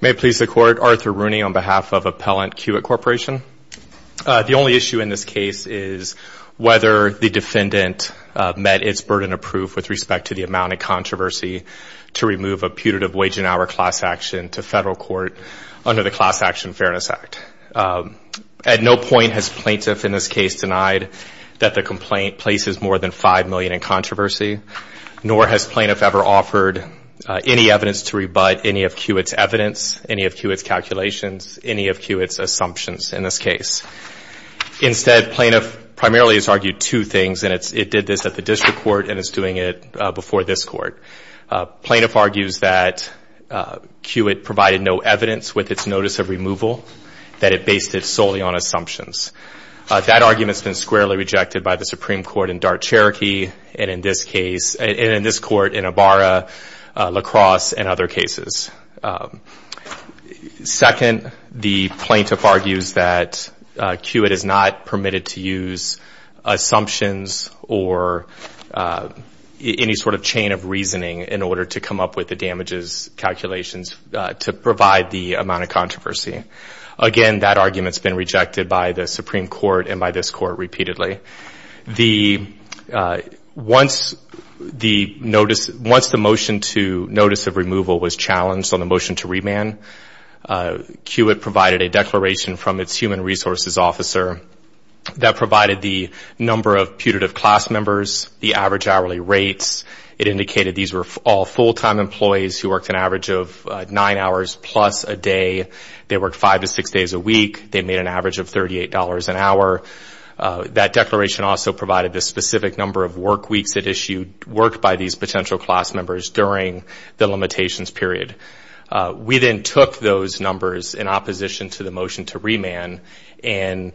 May it please the Court, Arthur Rooney on behalf of Appellant Kiewit Corporation. The only issue in this case is whether the defendant met its burden of proof with respect to the amount of controversy to remove a putative wage and hour class action to federal court under the Class Action Fairness Act. At no point has plaintiff in this case denied that the complaint places more than $5 million in controversy, nor has plaintiff ever offered any evidence to rebut any of Kiewit's evidence, any of Kiewit's calculations, any of Kiewit's assumptions in this case. Instead, plaintiff primarily has argued two things, and it did this at the district court and is doing it before this court. Plaintiff argues that Kiewit provided no evidence with its notice of removal, that it based it solely on assumptions. That argument's been squarely rejected by the Supreme Court in Dart, Cherokee, and in this case, and in this court in Ibarra, La Crosse, and other cases. Second, the plaintiff argues that Kiewit is not permitted to use assumptions or any sort of chain of reasoning in order to come up with the damages calculations to provide the amount of controversy. Again, that argument's been rejected by the Supreme Court and by this court repeatedly. Once the motion to notice of removal was challenged on the motion to remand, Kiewit provided a declaration from its human resources officer that provided the number of putative class members, the average hourly rates. It indicated these were all full-time employees who worked an average of nine hours plus a day. They worked five to six days a week. They made an average of $38 an hour. That declaration also provided the specific number of work weeks that issued work by these potential class members during the limitations period. We then took those numbers in opposition to the motion to remand and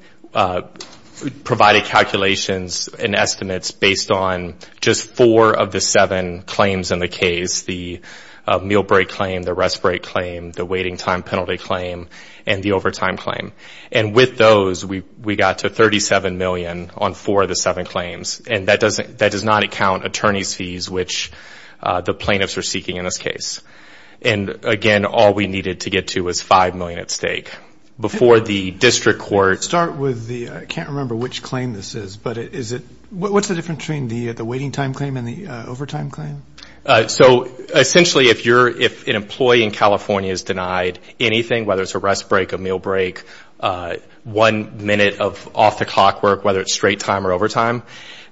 provided calculations and estimates based on just four of the seven claims in the case, the meal break claim, the rest break claim, the waiting time penalty claim, and the overtime claim. And with those, we got to $37 million on four of the seven claims. And that does not account attorneys' fees, which the plaintiffs are seeking in this case. And, again, all we needed to get to was $5 million at stake. Before the district court ---- Start with the ---- I can't remember which claim this is, but is it ---- what's the difference between the waiting time claim and the overtime claim? So, essentially, if an employee in California is denied anything, whether it's a rest break, a meal break, one minute of off-the-clock work, whether it's straight time or overtime,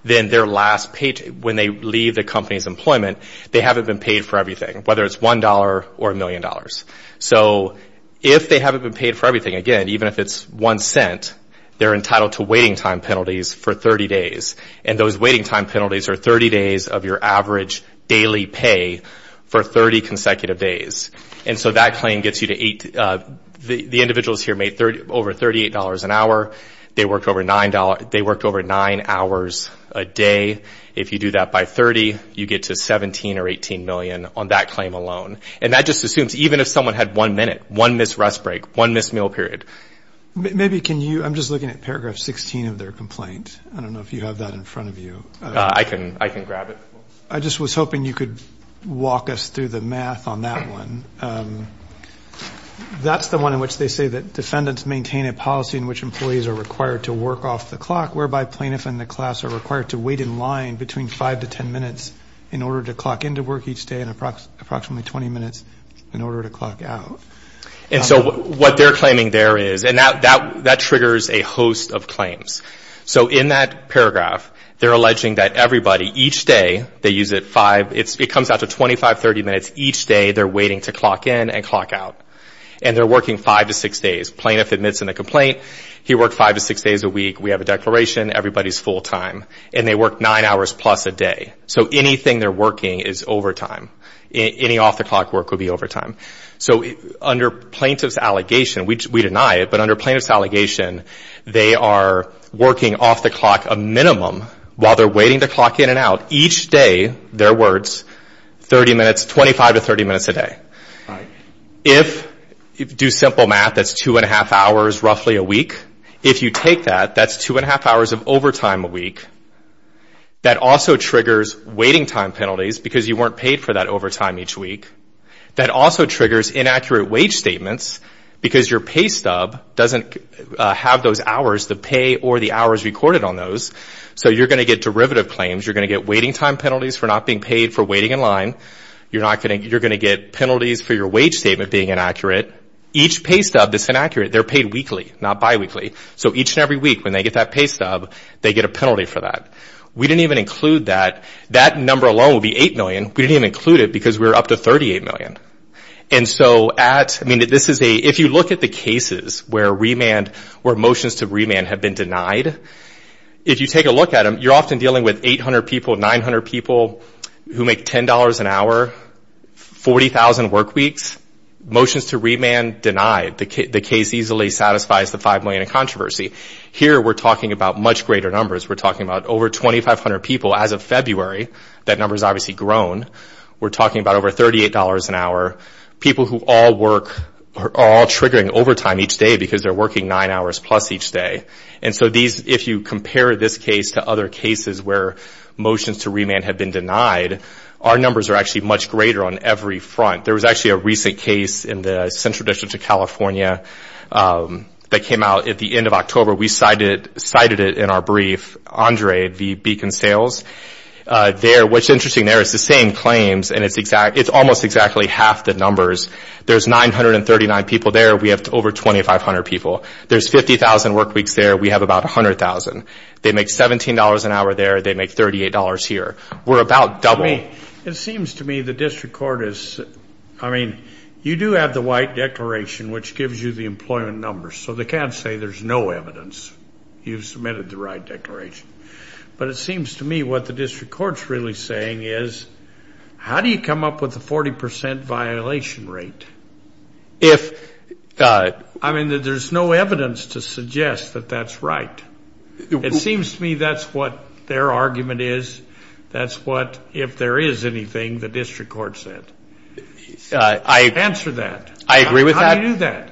then when they leave the company's employment, they haven't been paid for everything, whether it's $1 or $1 million. So if they haven't been paid for everything, again, even if it's one cent, they're entitled to waiting time penalties for 30 days. And those waiting time penalties are 30 days of your average daily pay for 30 consecutive days. And so that claim gets you to ---- the individuals here made over $38 an hour. They worked over $9. They worked over 9 hours a day. If you do that by 30, you get to $17 or $18 million on that claim alone. And that just assumes, even if someone had one minute, one missed rest break, one missed meal period. Maybe can you ---- I'm just looking at paragraph 16 of their complaint. I don't know if you have that in front of you. I can grab it. I just was hoping you could walk us through the math on that one. That's the one in which they say that defendants maintain a policy in which employees are required to work off the clock, whereby plaintiffs in the class are required to wait in line between 5 to 10 minutes in order to clock into work each day and approximately 20 minutes in order to clock out. And so what they're claiming there is, and that triggers a host of claims. So in that paragraph, they're alleging that everybody, each day, they use it 5 ---- it comes out to 25, 30 minutes each day they're waiting to clock in and clock out. And they're working 5 to 6 days. Plaintiff admits in the complaint he worked 5 to 6 days a week. We have a declaration. Everybody's full time. And they work 9 hours plus a day. So anything they're working is overtime. Any off-the-clock work would be overtime. So under plaintiff's allegation, we deny it, but under plaintiff's allegation, they are working off the clock a minimum while they're waiting to clock in and out each day, their words, 30 minutes, 25 to 30 minutes a day. If you do simple math, that's 2 1⁄2 hours roughly a week. If you take that, that's 2 1⁄2 hours of overtime a week. That also triggers waiting time penalties because you weren't paid for that overtime each week. That also triggers inaccurate wage statements because your pay stub doesn't have those hours to pay or the hours recorded on those. So you're going to get derivative claims. You're going to get waiting time penalties for not being paid for waiting in line. You're going to get penalties for your wage statement being inaccurate. Each pay stub that's inaccurate, they're paid weekly, not biweekly. So each and every week when they get that pay stub, they get a penalty for that. We didn't even include that. That number alone would be 8 million. We didn't even include it because we were up to 38 million. If you look at the cases where motions to remand have been denied, if you take a look at them, you're often dealing with 800 people, 900 people who make $10 an hour, 40,000 work weeks. Motions to remand denied. The case easily satisfies the 5 million in controversy. Here we're talking about much greater numbers. We're talking about over 2,500 people as of February. That number has obviously grown. We're talking about over $38 an hour. People who all work are all triggering overtime each day because they're working nine hours plus each day. So if you compare this case to other cases where motions to remand have been denied, our numbers are actually much greater on every front. There was actually a recent case in the Central District of California that came out at the end of October. We cited it in our brief. Andre, the Beacon Sales. What's interesting there is it's the same claims and it's almost exactly half the numbers. There's 939 people there. We have over 2,500 people. There's 50,000 work weeks there. We have about 100,000. They make $17 an hour there. They make $38 here. We're about double. It seems to me the district court is, I mean, you do have the white declaration which gives you the employment numbers. So they can't say there's no evidence. You've submitted the right declaration. But it seems to me what the district court is really saying is how do you come up with a 40% violation rate? I mean, there's no evidence to suggest that that's right. It seems to me that's what their argument is. That's what, if there is anything, the district court said. Answer that. I agree with that. How do you do that?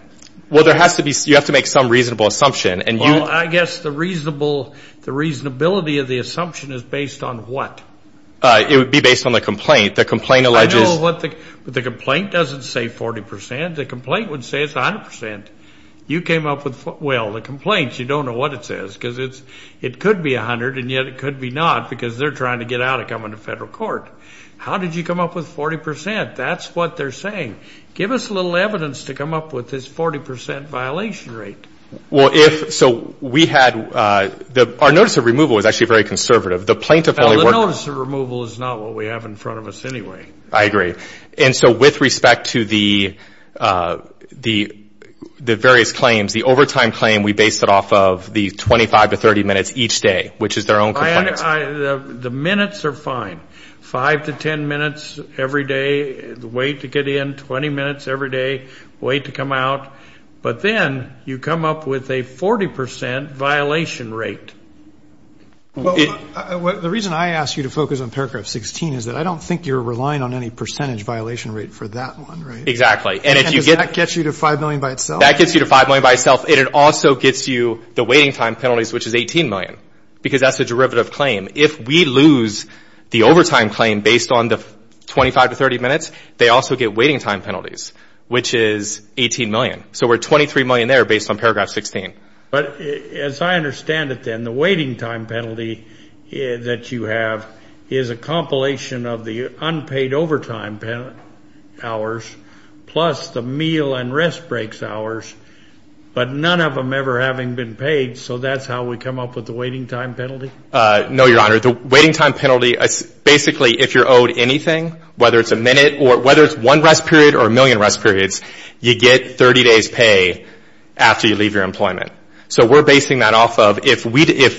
Well, you have to make some reasonable assumption. Well, I guess the reasonability of the assumption is based on what? It would be based on the complaint. The complaint alleges. I know what the complaint doesn't say 40%. The complaint would say it's 100%. You came up with, well, the complaint, you don't know what it says because it could be 100 and yet it could be not because they're trying to get out of coming to federal court. How did you come up with 40%? That's what they're saying. Give us a little evidence to come up with this 40% violation rate. Well, if so, we had our notice of removal was actually very conservative. The plaintiff only worked. Well, the notice of removal is not what we have in front of us anyway. I agree. And so with respect to the various claims, the overtime claim we based it off of the 25 to 30 minutes each day, which is their own complaints. The minutes are fine, 5 to 10 minutes every day, the wait to get in, 20 minutes every day, wait to come out. But then you come up with a 40% violation rate. The reason I asked you to focus on paragraph 16 is that I don't think you're relying on any percentage violation rate for that one, right? Exactly. And does that get you to $5 million by itself? That gets you to $5 million by itself. It also gets you the waiting time penalties, which is $18 million, because that's the derivative claim. If we lose the overtime claim based on the 25 to 30 minutes, they also get waiting time penalties, which is $18 million. So we're $23 million there based on paragraph 16. But as I understand it then, the waiting time penalty that you have is a compilation of the unpaid overtime hours plus the meal and rest breaks hours, but none of them ever having been paid. So that's how we come up with the waiting time penalty? No, Your Honor. Basically, if you're owed anything, whether it's a minute or whether it's one rest period or a million rest periods, you get 30 days' pay after you leave your employment. So we're basing that off of if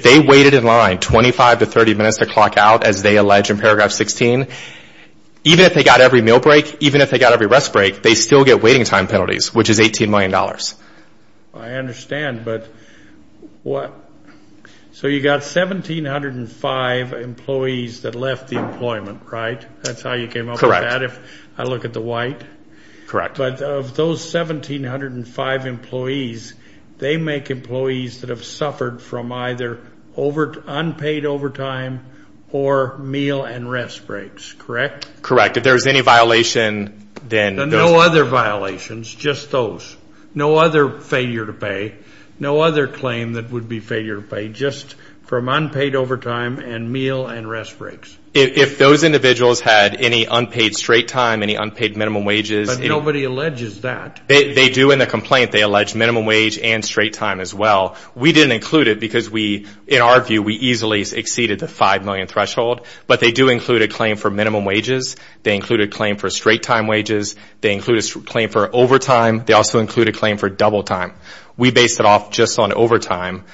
they waited in line 25 to 30 minutes to clock out, as they allege in paragraph 16, even if they got every meal break, even if they got every rest break, they still get waiting time penalties, which is $18 million. I understand, but what? So you got 1,705 employees that left the employment, right? That's how you came up with that? Correct. If I look at the white? Correct. But of those 1,705 employees, they make employees that have suffered from either unpaid overtime or meal and rest breaks, correct? Correct. If there's any violation, then those people. No other violations, just those. No other failure to pay. No other claim that would be failure to pay, just from unpaid overtime and meal and rest breaks. If those individuals had any unpaid straight time, any unpaid minimum wages. But nobody alleges that. They do in the complaint. They allege minimum wage and straight time as well. We didn't include it because we, in our view, we easily exceeded the 5 million threshold. But they do include a claim for minimum wages. They include a claim for straight time wages. They include a claim for overtime. They also include a claim for double time. We based it off just on overtime,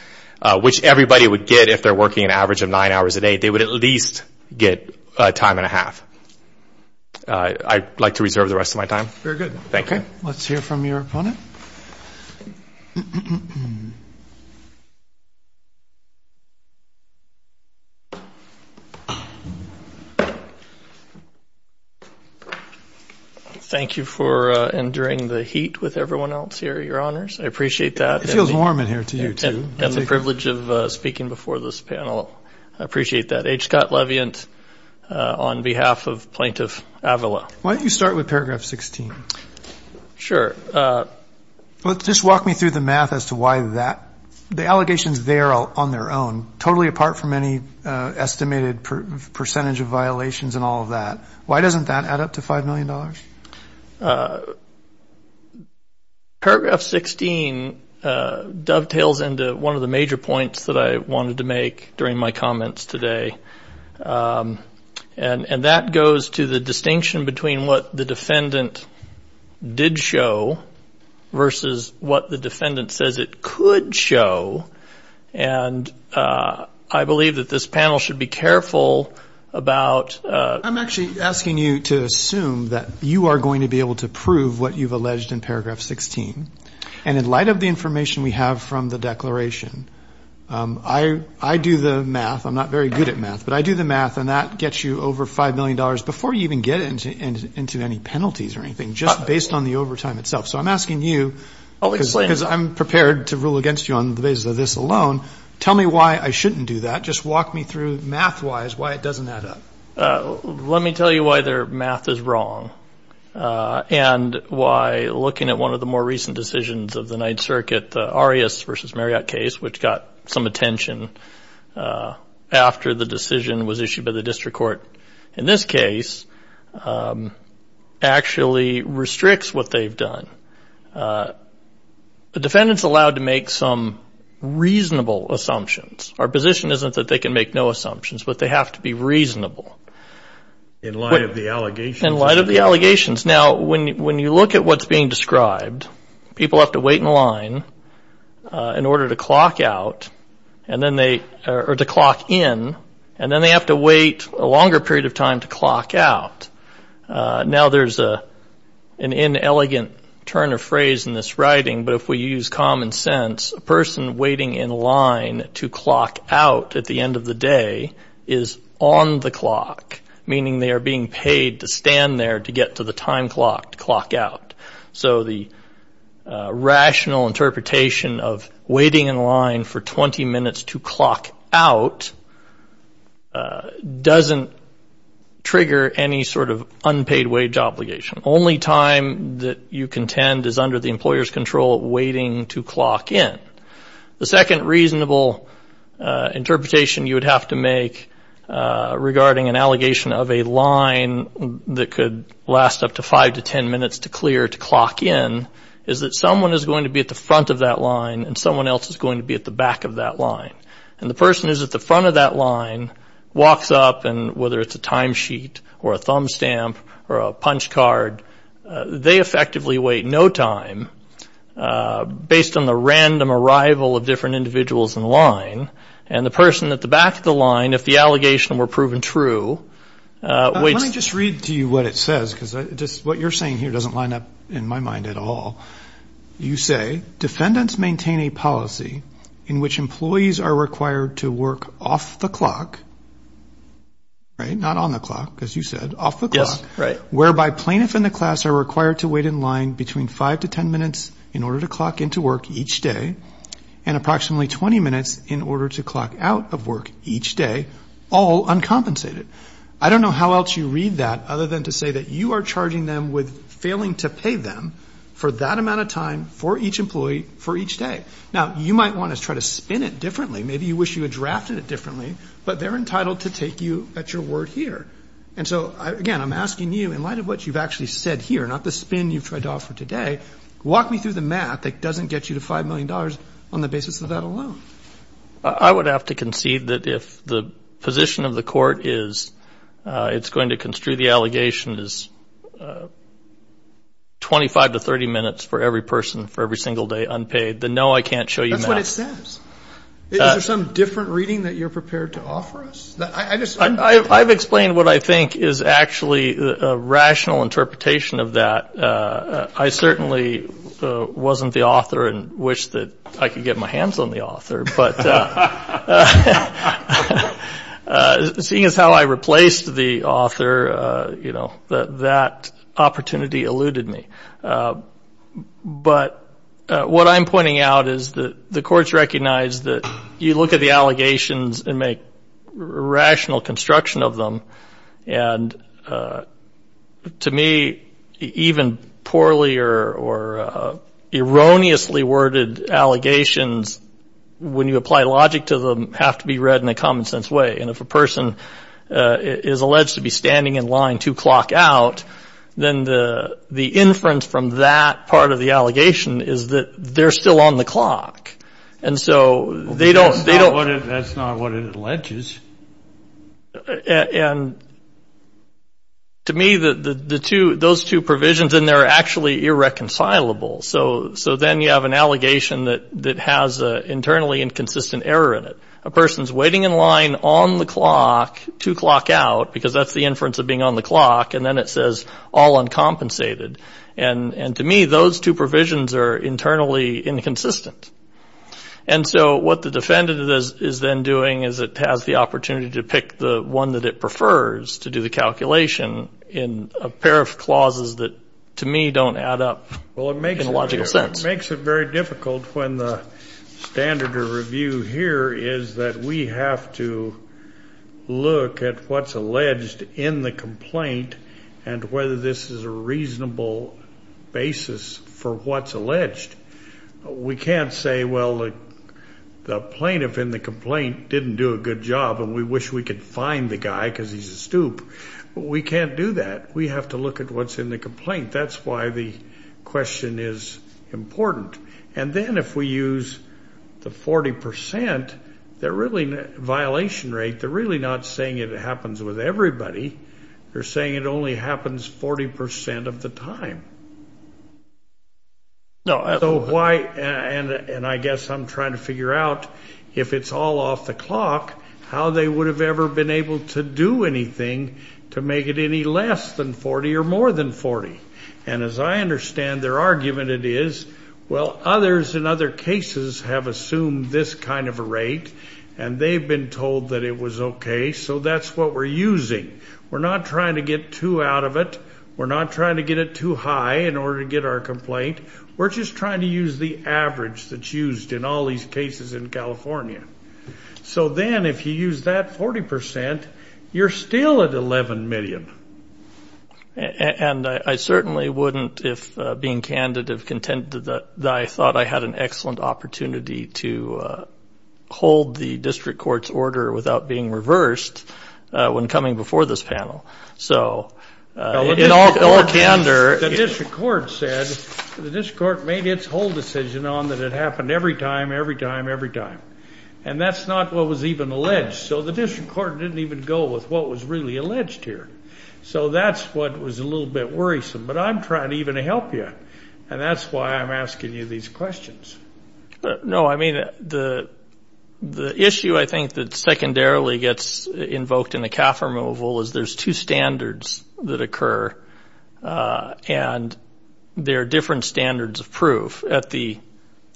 which everybody would get if they're working an average of nine hours a day. They would at least get a time and a half. I'd like to reserve the rest of my time. Very good. Let's hear from your opponent. Thank you for enduring the heat with everyone else here, Your Honors. I appreciate that. It feels warm in here to you, too. And the privilege of speaking before this panel. I appreciate that. H. Scott Leviant on behalf of Plaintiff Avila. Why don't you start with Paragraph 16? Sure. Just walk me through the math as to why that, the allegations there on their own, totally apart from any estimated percentage of violations and all of that. Why doesn't that add up to $5 million? Paragraph 16 dovetails into one of the major points that I wanted to make during my comments today. And that goes to the distinction between what the defendant did show versus what the defendant says it could show. And I believe that this panel should be careful about. I'm actually asking you to assume that you are going to be able to prove what you've alleged in Paragraph 16. And in light of the information we have from the declaration, I do the math. I'm not very good at math. But I do the math, and that gets you over $5 million before you even get into any penalties or anything, just based on the overtime itself. So I'm asking you because I'm prepared to rule against you on the basis of this alone. Tell me why I shouldn't do that. Just walk me through math-wise why it doesn't add up. Let me tell you why their math is wrong and why looking at one of the more recent decisions of the Ninth Circuit, the Arias versus Marriott case, which got some attention after the decision was issued by the district court in this case, actually restricts what they've done. The defendants allowed to make some reasonable assumptions. Our position isn't that they can make no assumptions, but they have to be reasonable. In light of the allegations. In light of the allegations. Now, when you look at what's being described, people have to wait in line in order to clock out or to clock in, and then they have to wait a longer period of time to clock out. Now, there's an inelegant turn of phrase in this writing, but if we use common sense, a person waiting in line to clock out at the end of the day is on the clock, meaning they are being paid to stand there to get to the time clock to clock out. So the rational interpretation of waiting in line for 20 minutes to clock out doesn't trigger any sort of unpaid wage obligation. Only time that you contend is under the employer's control waiting to clock in. The second reasonable interpretation you would have to make regarding an allegation of a line that could last up to five to ten minutes to clear to clock in is that someone is going to be at the front of that line and someone else is going to be at the back of that line. And the person who's at the front of that line walks up, and whether it's a time sheet or a thumb stamp or a punch card, they effectively wait no time based on the random arrival of different individuals in line. And the person at the back of the line, if the allegation were proven true, waits. Let me just read to you what it says, because what you're saying here doesn't line up in my mind at all. You say, defendants maintain a policy in which employees are required to work off the clock, right, not on the clock, as you said, off the clock. Yes, right. Whereby plaintiff and the class are required to wait in line between five to ten minutes in order to clock into work each day and approximately 20 minutes in order to clock out of work each day, all uncompensated. I don't know how else you read that other than to say that you are charging them with failing to pay them for that amount of time for each employee for each day. Now, you might want to try to spin it differently. Maybe you wish you had drafted it differently, but they're entitled to take you at your word here. And so, again, I'm asking you, in light of what you've actually said here, not the spin you've tried to offer today, walk me through the math that doesn't get you to $5 million on the basis of that alone. I would have to concede that if the position of the court is it's going to construe the allegation as 25 to 30 minutes for every person for every single day unpaid, then no, I can't show you math. That's what it says. Is there some different reading that you're prepared to offer us? I've explained what I think is actually a rational interpretation of that. I certainly wasn't the author and wish that I could get my hands on the author, but seeing as how I replaced the author, you know, that opportunity eluded me. But what I'm pointing out is that the courts recognize that you look at the allegations and make rational construction of them. And to me, even poorly or erroneously worded allegations, when you apply logic to them, have to be read in a common sense way. And if a person is alleged to be standing in line two o'clock out, then the inference from that part of the allegation is that they're still on the clock. That's not what it alleges. And to me, those two provisions in there are actually irreconcilable. So then you have an allegation that has an internally inconsistent error in it. A person is waiting in line on the clock, two o'clock out, because that's the inference of being on the clock, and then it says all uncompensated. And to me, those two provisions are internally inconsistent. And so what the defendant is then doing is it has the opportunity to pick the one that it prefers to do the calculation in a pair of clauses that, to me, don't add up in a logical sense. Well, it makes it very difficult when the standard of review here is that we have to look at what's alleged in the complaint and whether this is a reasonable basis for what's alleged. We can't say, well, the plaintiff in the complaint didn't do a good job, and we wish we could fine the guy because he's a stoop. We can't do that. We have to look at what's in the complaint. That's why the question is important. And then if we use the 40 percent, the violation rate, they're really not saying it happens with everybody. They're saying it only happens 40 percent of the time. So why, and I guess I'm trying to figure out if it's all off the clock, how they would have ever been able to do anything to make it any less than 40 or more than 40. And as I understand their argument, it is, well, others in other cases have assumed this kind of a rate, and they've been told that it was okay, so that's what we're using. We're not trying to get too out of it. We're not trying to get it too high in order to get our complaint. We're just trying to use the average that's used in all these cases in California. So then if you use that 40 percent, you're still at 11 million. And I certainly wouldn't, if being candid, have contended that I thought I had an excellent opportunity to hold the district court's order without being reversed when coming before this panel. So in all candor. The district court said, the district court made its whole decision on that it happened every time, every time, every time. And that's not what was even alleged. So the district court didn't even go with what was really alleged here. So that's what was a little bit worrisome. But I'm trying to even help you, and that's why I'm asking you these questions. No, I mean, the issue I think that secondarily gets invoked in the CAF removal is there's two standards that occur, and they're different standards of proof. At the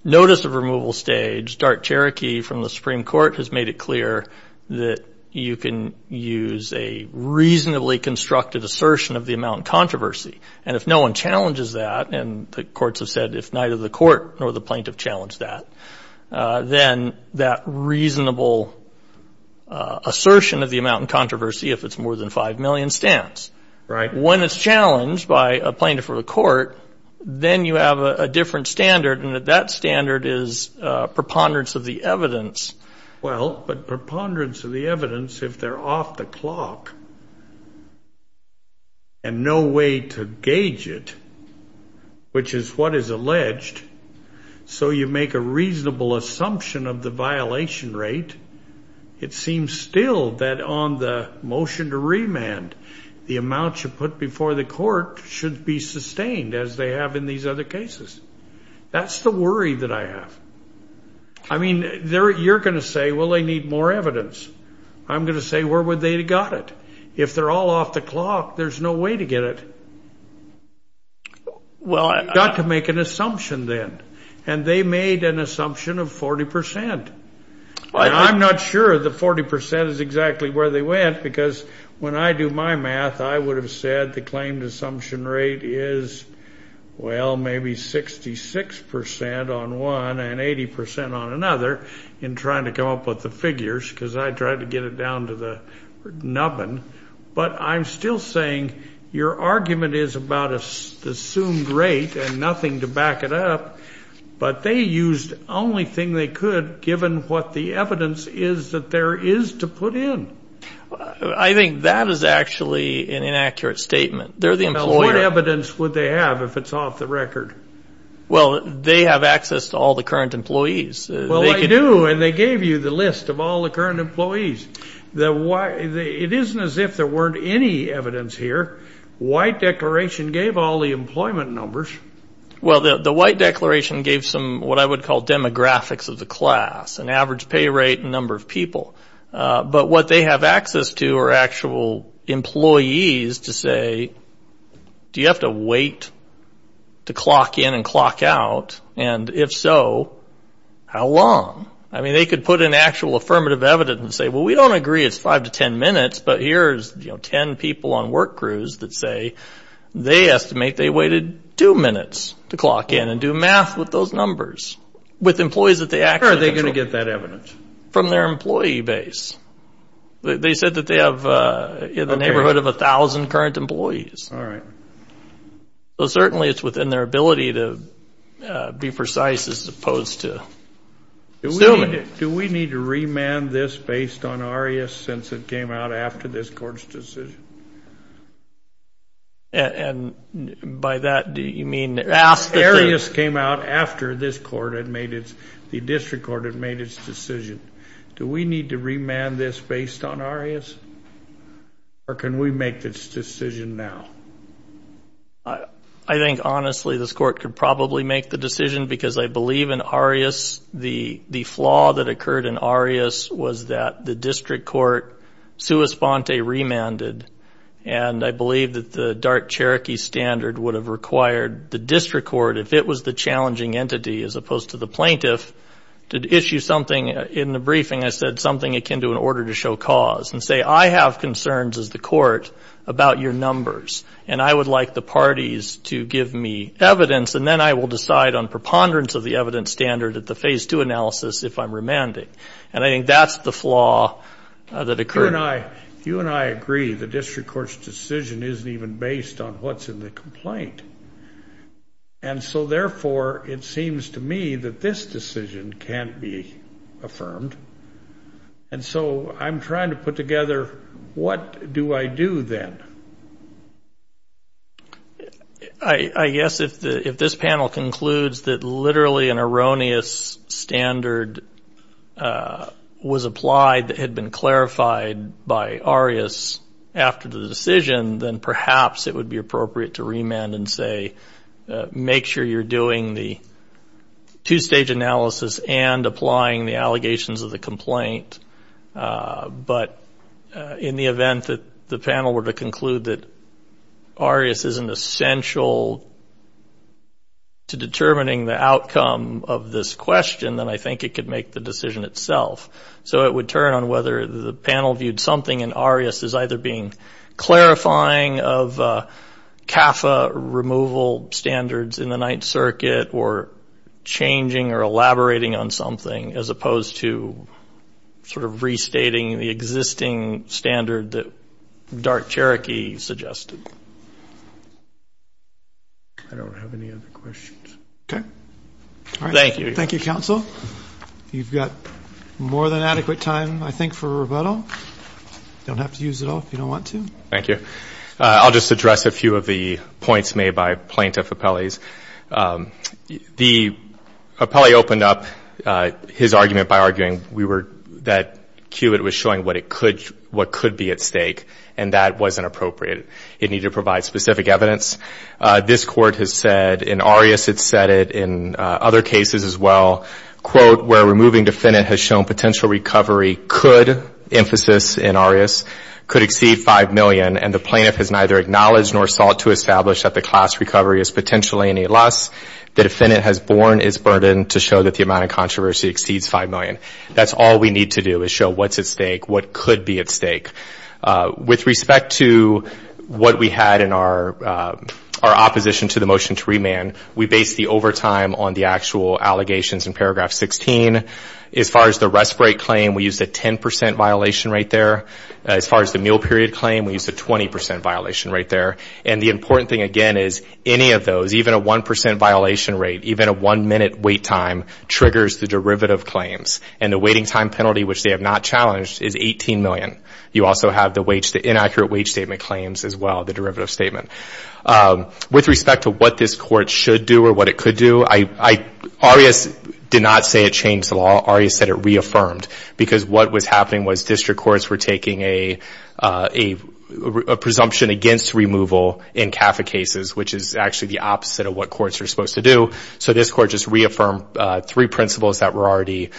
notice of removal stage, Dark Cherokee from the Supreme Court has made it clear that you can use a reasonably constructed assertion of the amount in controversy. And if no one challenges that, and the courts have said if neither the court nor the plaintiff challenged that, then that reasonable assertion of the amount in controversy, if it's more than 5 million, stands. Right. When it's challenged by a plaintiff or the court, then you have a different standard, and that standard is preponderance of the evidence. Well, but preponderance of the evidence, if they're off the clock and no way to gauge it, which is what is alleged, so you make a reasonable assumption of the violation rate, it seems still that on the motion to remand, the amount you put before the court should be sustained, as they have in these other cases. That's the worry that I have. I mean, you're going to say, well, they need more evidence. I'm going to say, where would they have got it? If they're all off the clock, there's no way to get it. You've got to make an assumption then, and they made an assumption of 40%. I'm not sure the 40% is exactly where they went, because when I do my math, I would have said the claimed assumption rate is, well, maybe 66% on one and 80% on another, in trying to come up with the figures, because I tried to get it down to the nubbin, but I'm still saying your argument is about the assumed rate and nothing to back it up, but they used the only thing they could, given what the evidence is that there is to put in. I think that is actually an inaccurate statement. They're the employer. What evidence would they have if it's off the record? Well, they have access to all the current employees. Well, they do, and they gave you the list of all the current employees. It isn't as if there weren't any evidence here. White Declaration gave all the employment numbers. Well, the White Declaration gave some what I would call demographics of the class, an average pay rate and number of people, but what they have access to are actual employees to say, do you have to wait to clock in and clock out, and if so, how long? I mean, they could put in actual affirmative evidence and say, well, we don't agree it's 5 to 10 minutes, but here's 10 people on work crews that say they estimate they waited two minutes to clock in and do math with those numbers with employees that they actually control. Where are they going to get that evidence? From their employee base. They said that they have in the neighborhood of 1,000 current employees. All right. So certainly it's within their ability to be precise as opposed to assuming. Do we need to remand this based on ARIAS since it came out after this court's decision? And by that, do you mean? ARIAS came out after this court had made its, the district court had made its decision. Do we need to remand this based on ARIAS, or can we make this decision now? I think, honestly, this court could probably make the decision because I believe in ARIAS, the flaw that occurred in ARIAS was that the district court sua sponte remanded, and I believe that the dark Cherokee standard would have required the district court, if it was the challenging entity as opposed to the plaintiff, to issue something. In the briefing, I said something akin to an order to show cause and say, I have concerns as the court about your numbers, and I would like the parties to give me evidence, and then I will decide on preponderance of the evidence standard at the Phase 2 analysis if I'm remanding. And I think that's the flaw that occurred. You and I agree the district court's decision isn't even based on what's in the complaint. And so, therefore, it seems to me that this decision can't be affirmed. And so I'm trying to put together what do I do then. I guess if this panel concludes that literally an erroneous standard was applied that had been clarified by ARIAS after the decision, then perhaps it would be appropriate to remand and say, make sure you're doing the two-stage analysis and applying the allegations of the complaint. But in the event that the panel were to conclude that ARIAS isn't essential to determining the outcome of this question, then I think it could make the decision itself. So it would turn on whether the panel viewed something in ARIAS as either being clarifying of CAFA removal standards in the Ninth Circuit or changing or elaborating on something, as opposed to sort of restating the existing standard that Dark Cherokee suggested. I don't have any other questions. Okay. Thank you. Thank you, counsel. You've got more than adequate time, I think, for rebuttal. You don't have to use it all if you don't want to. Thank you. I'll just address a few of the points made by plaintiff appellees. The appellee opened up his argument by arguing that CUBIT was showing what could be at stake, and that wasn't appropriate. It needed to provide specific evidence. This Court has said, and ARIAS had said it in other cases as well, where removing defendant has shown potential recovery could, emphasis in ARIAS, could exceed $5 million, and the plaintiff has neither acknowledged nor sought to establish that the class recovery is potentially any less. The defendant has borne its burden to show that the amount of controversy exceeds $5 million. That's all we need to do is show what's at stake, what could be at stake. With respect to what we had in our opposition to the motion to remand, we based the overtime on the actual allegations in paragraph 16. As far as the respite claim, we used a 10% violation right there. As far as the meal period claim, we used a 20% violation right there. And the important thing, again, is any of those, even a 1% violation rate, even a one-minute wait time, triggers the derivative claims. And the waiting time penalty, which they have not challenged, is $18 million. You also have the inaccurate wage statement claims as well, the derivative statement. With respect to what this court should do or what it could do, ARIAS did not say it changed the law. ARIAS said it reaffirmed, because what was happening was district courts were taking a presumption against removal in CAFA cases, which is actually the opposite of what courts are supposed to do. So this court just reaffirmed three principles that were already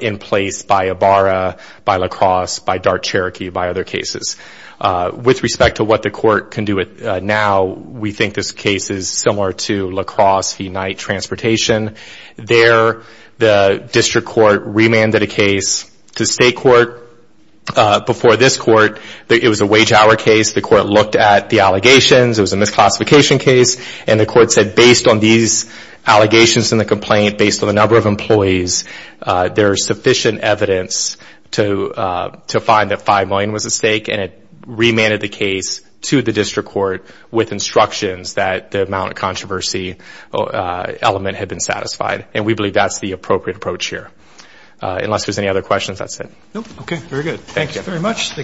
in place by Ibarra, by La Crosse, by Dark Cherokee, by other cases. With respect to what the court can do now, we think this case is similar to La Crosse v. Knight Transportation. There, the district court remanded a case to state court before this court. It was a wage-hour case. The court looked at the allegations. It was a misclassification case. And the court said, based on these allegations in the complaint, based on the number of employees, there is sufficient evidence to find that $5 million was at stake. And it remanded the case to the district court with instructions that the amount of controversy element had been satisfied. And we believe that's the appropriate approach here. Unless there's any other questions, that's it. Okay, very good. Thank you very much.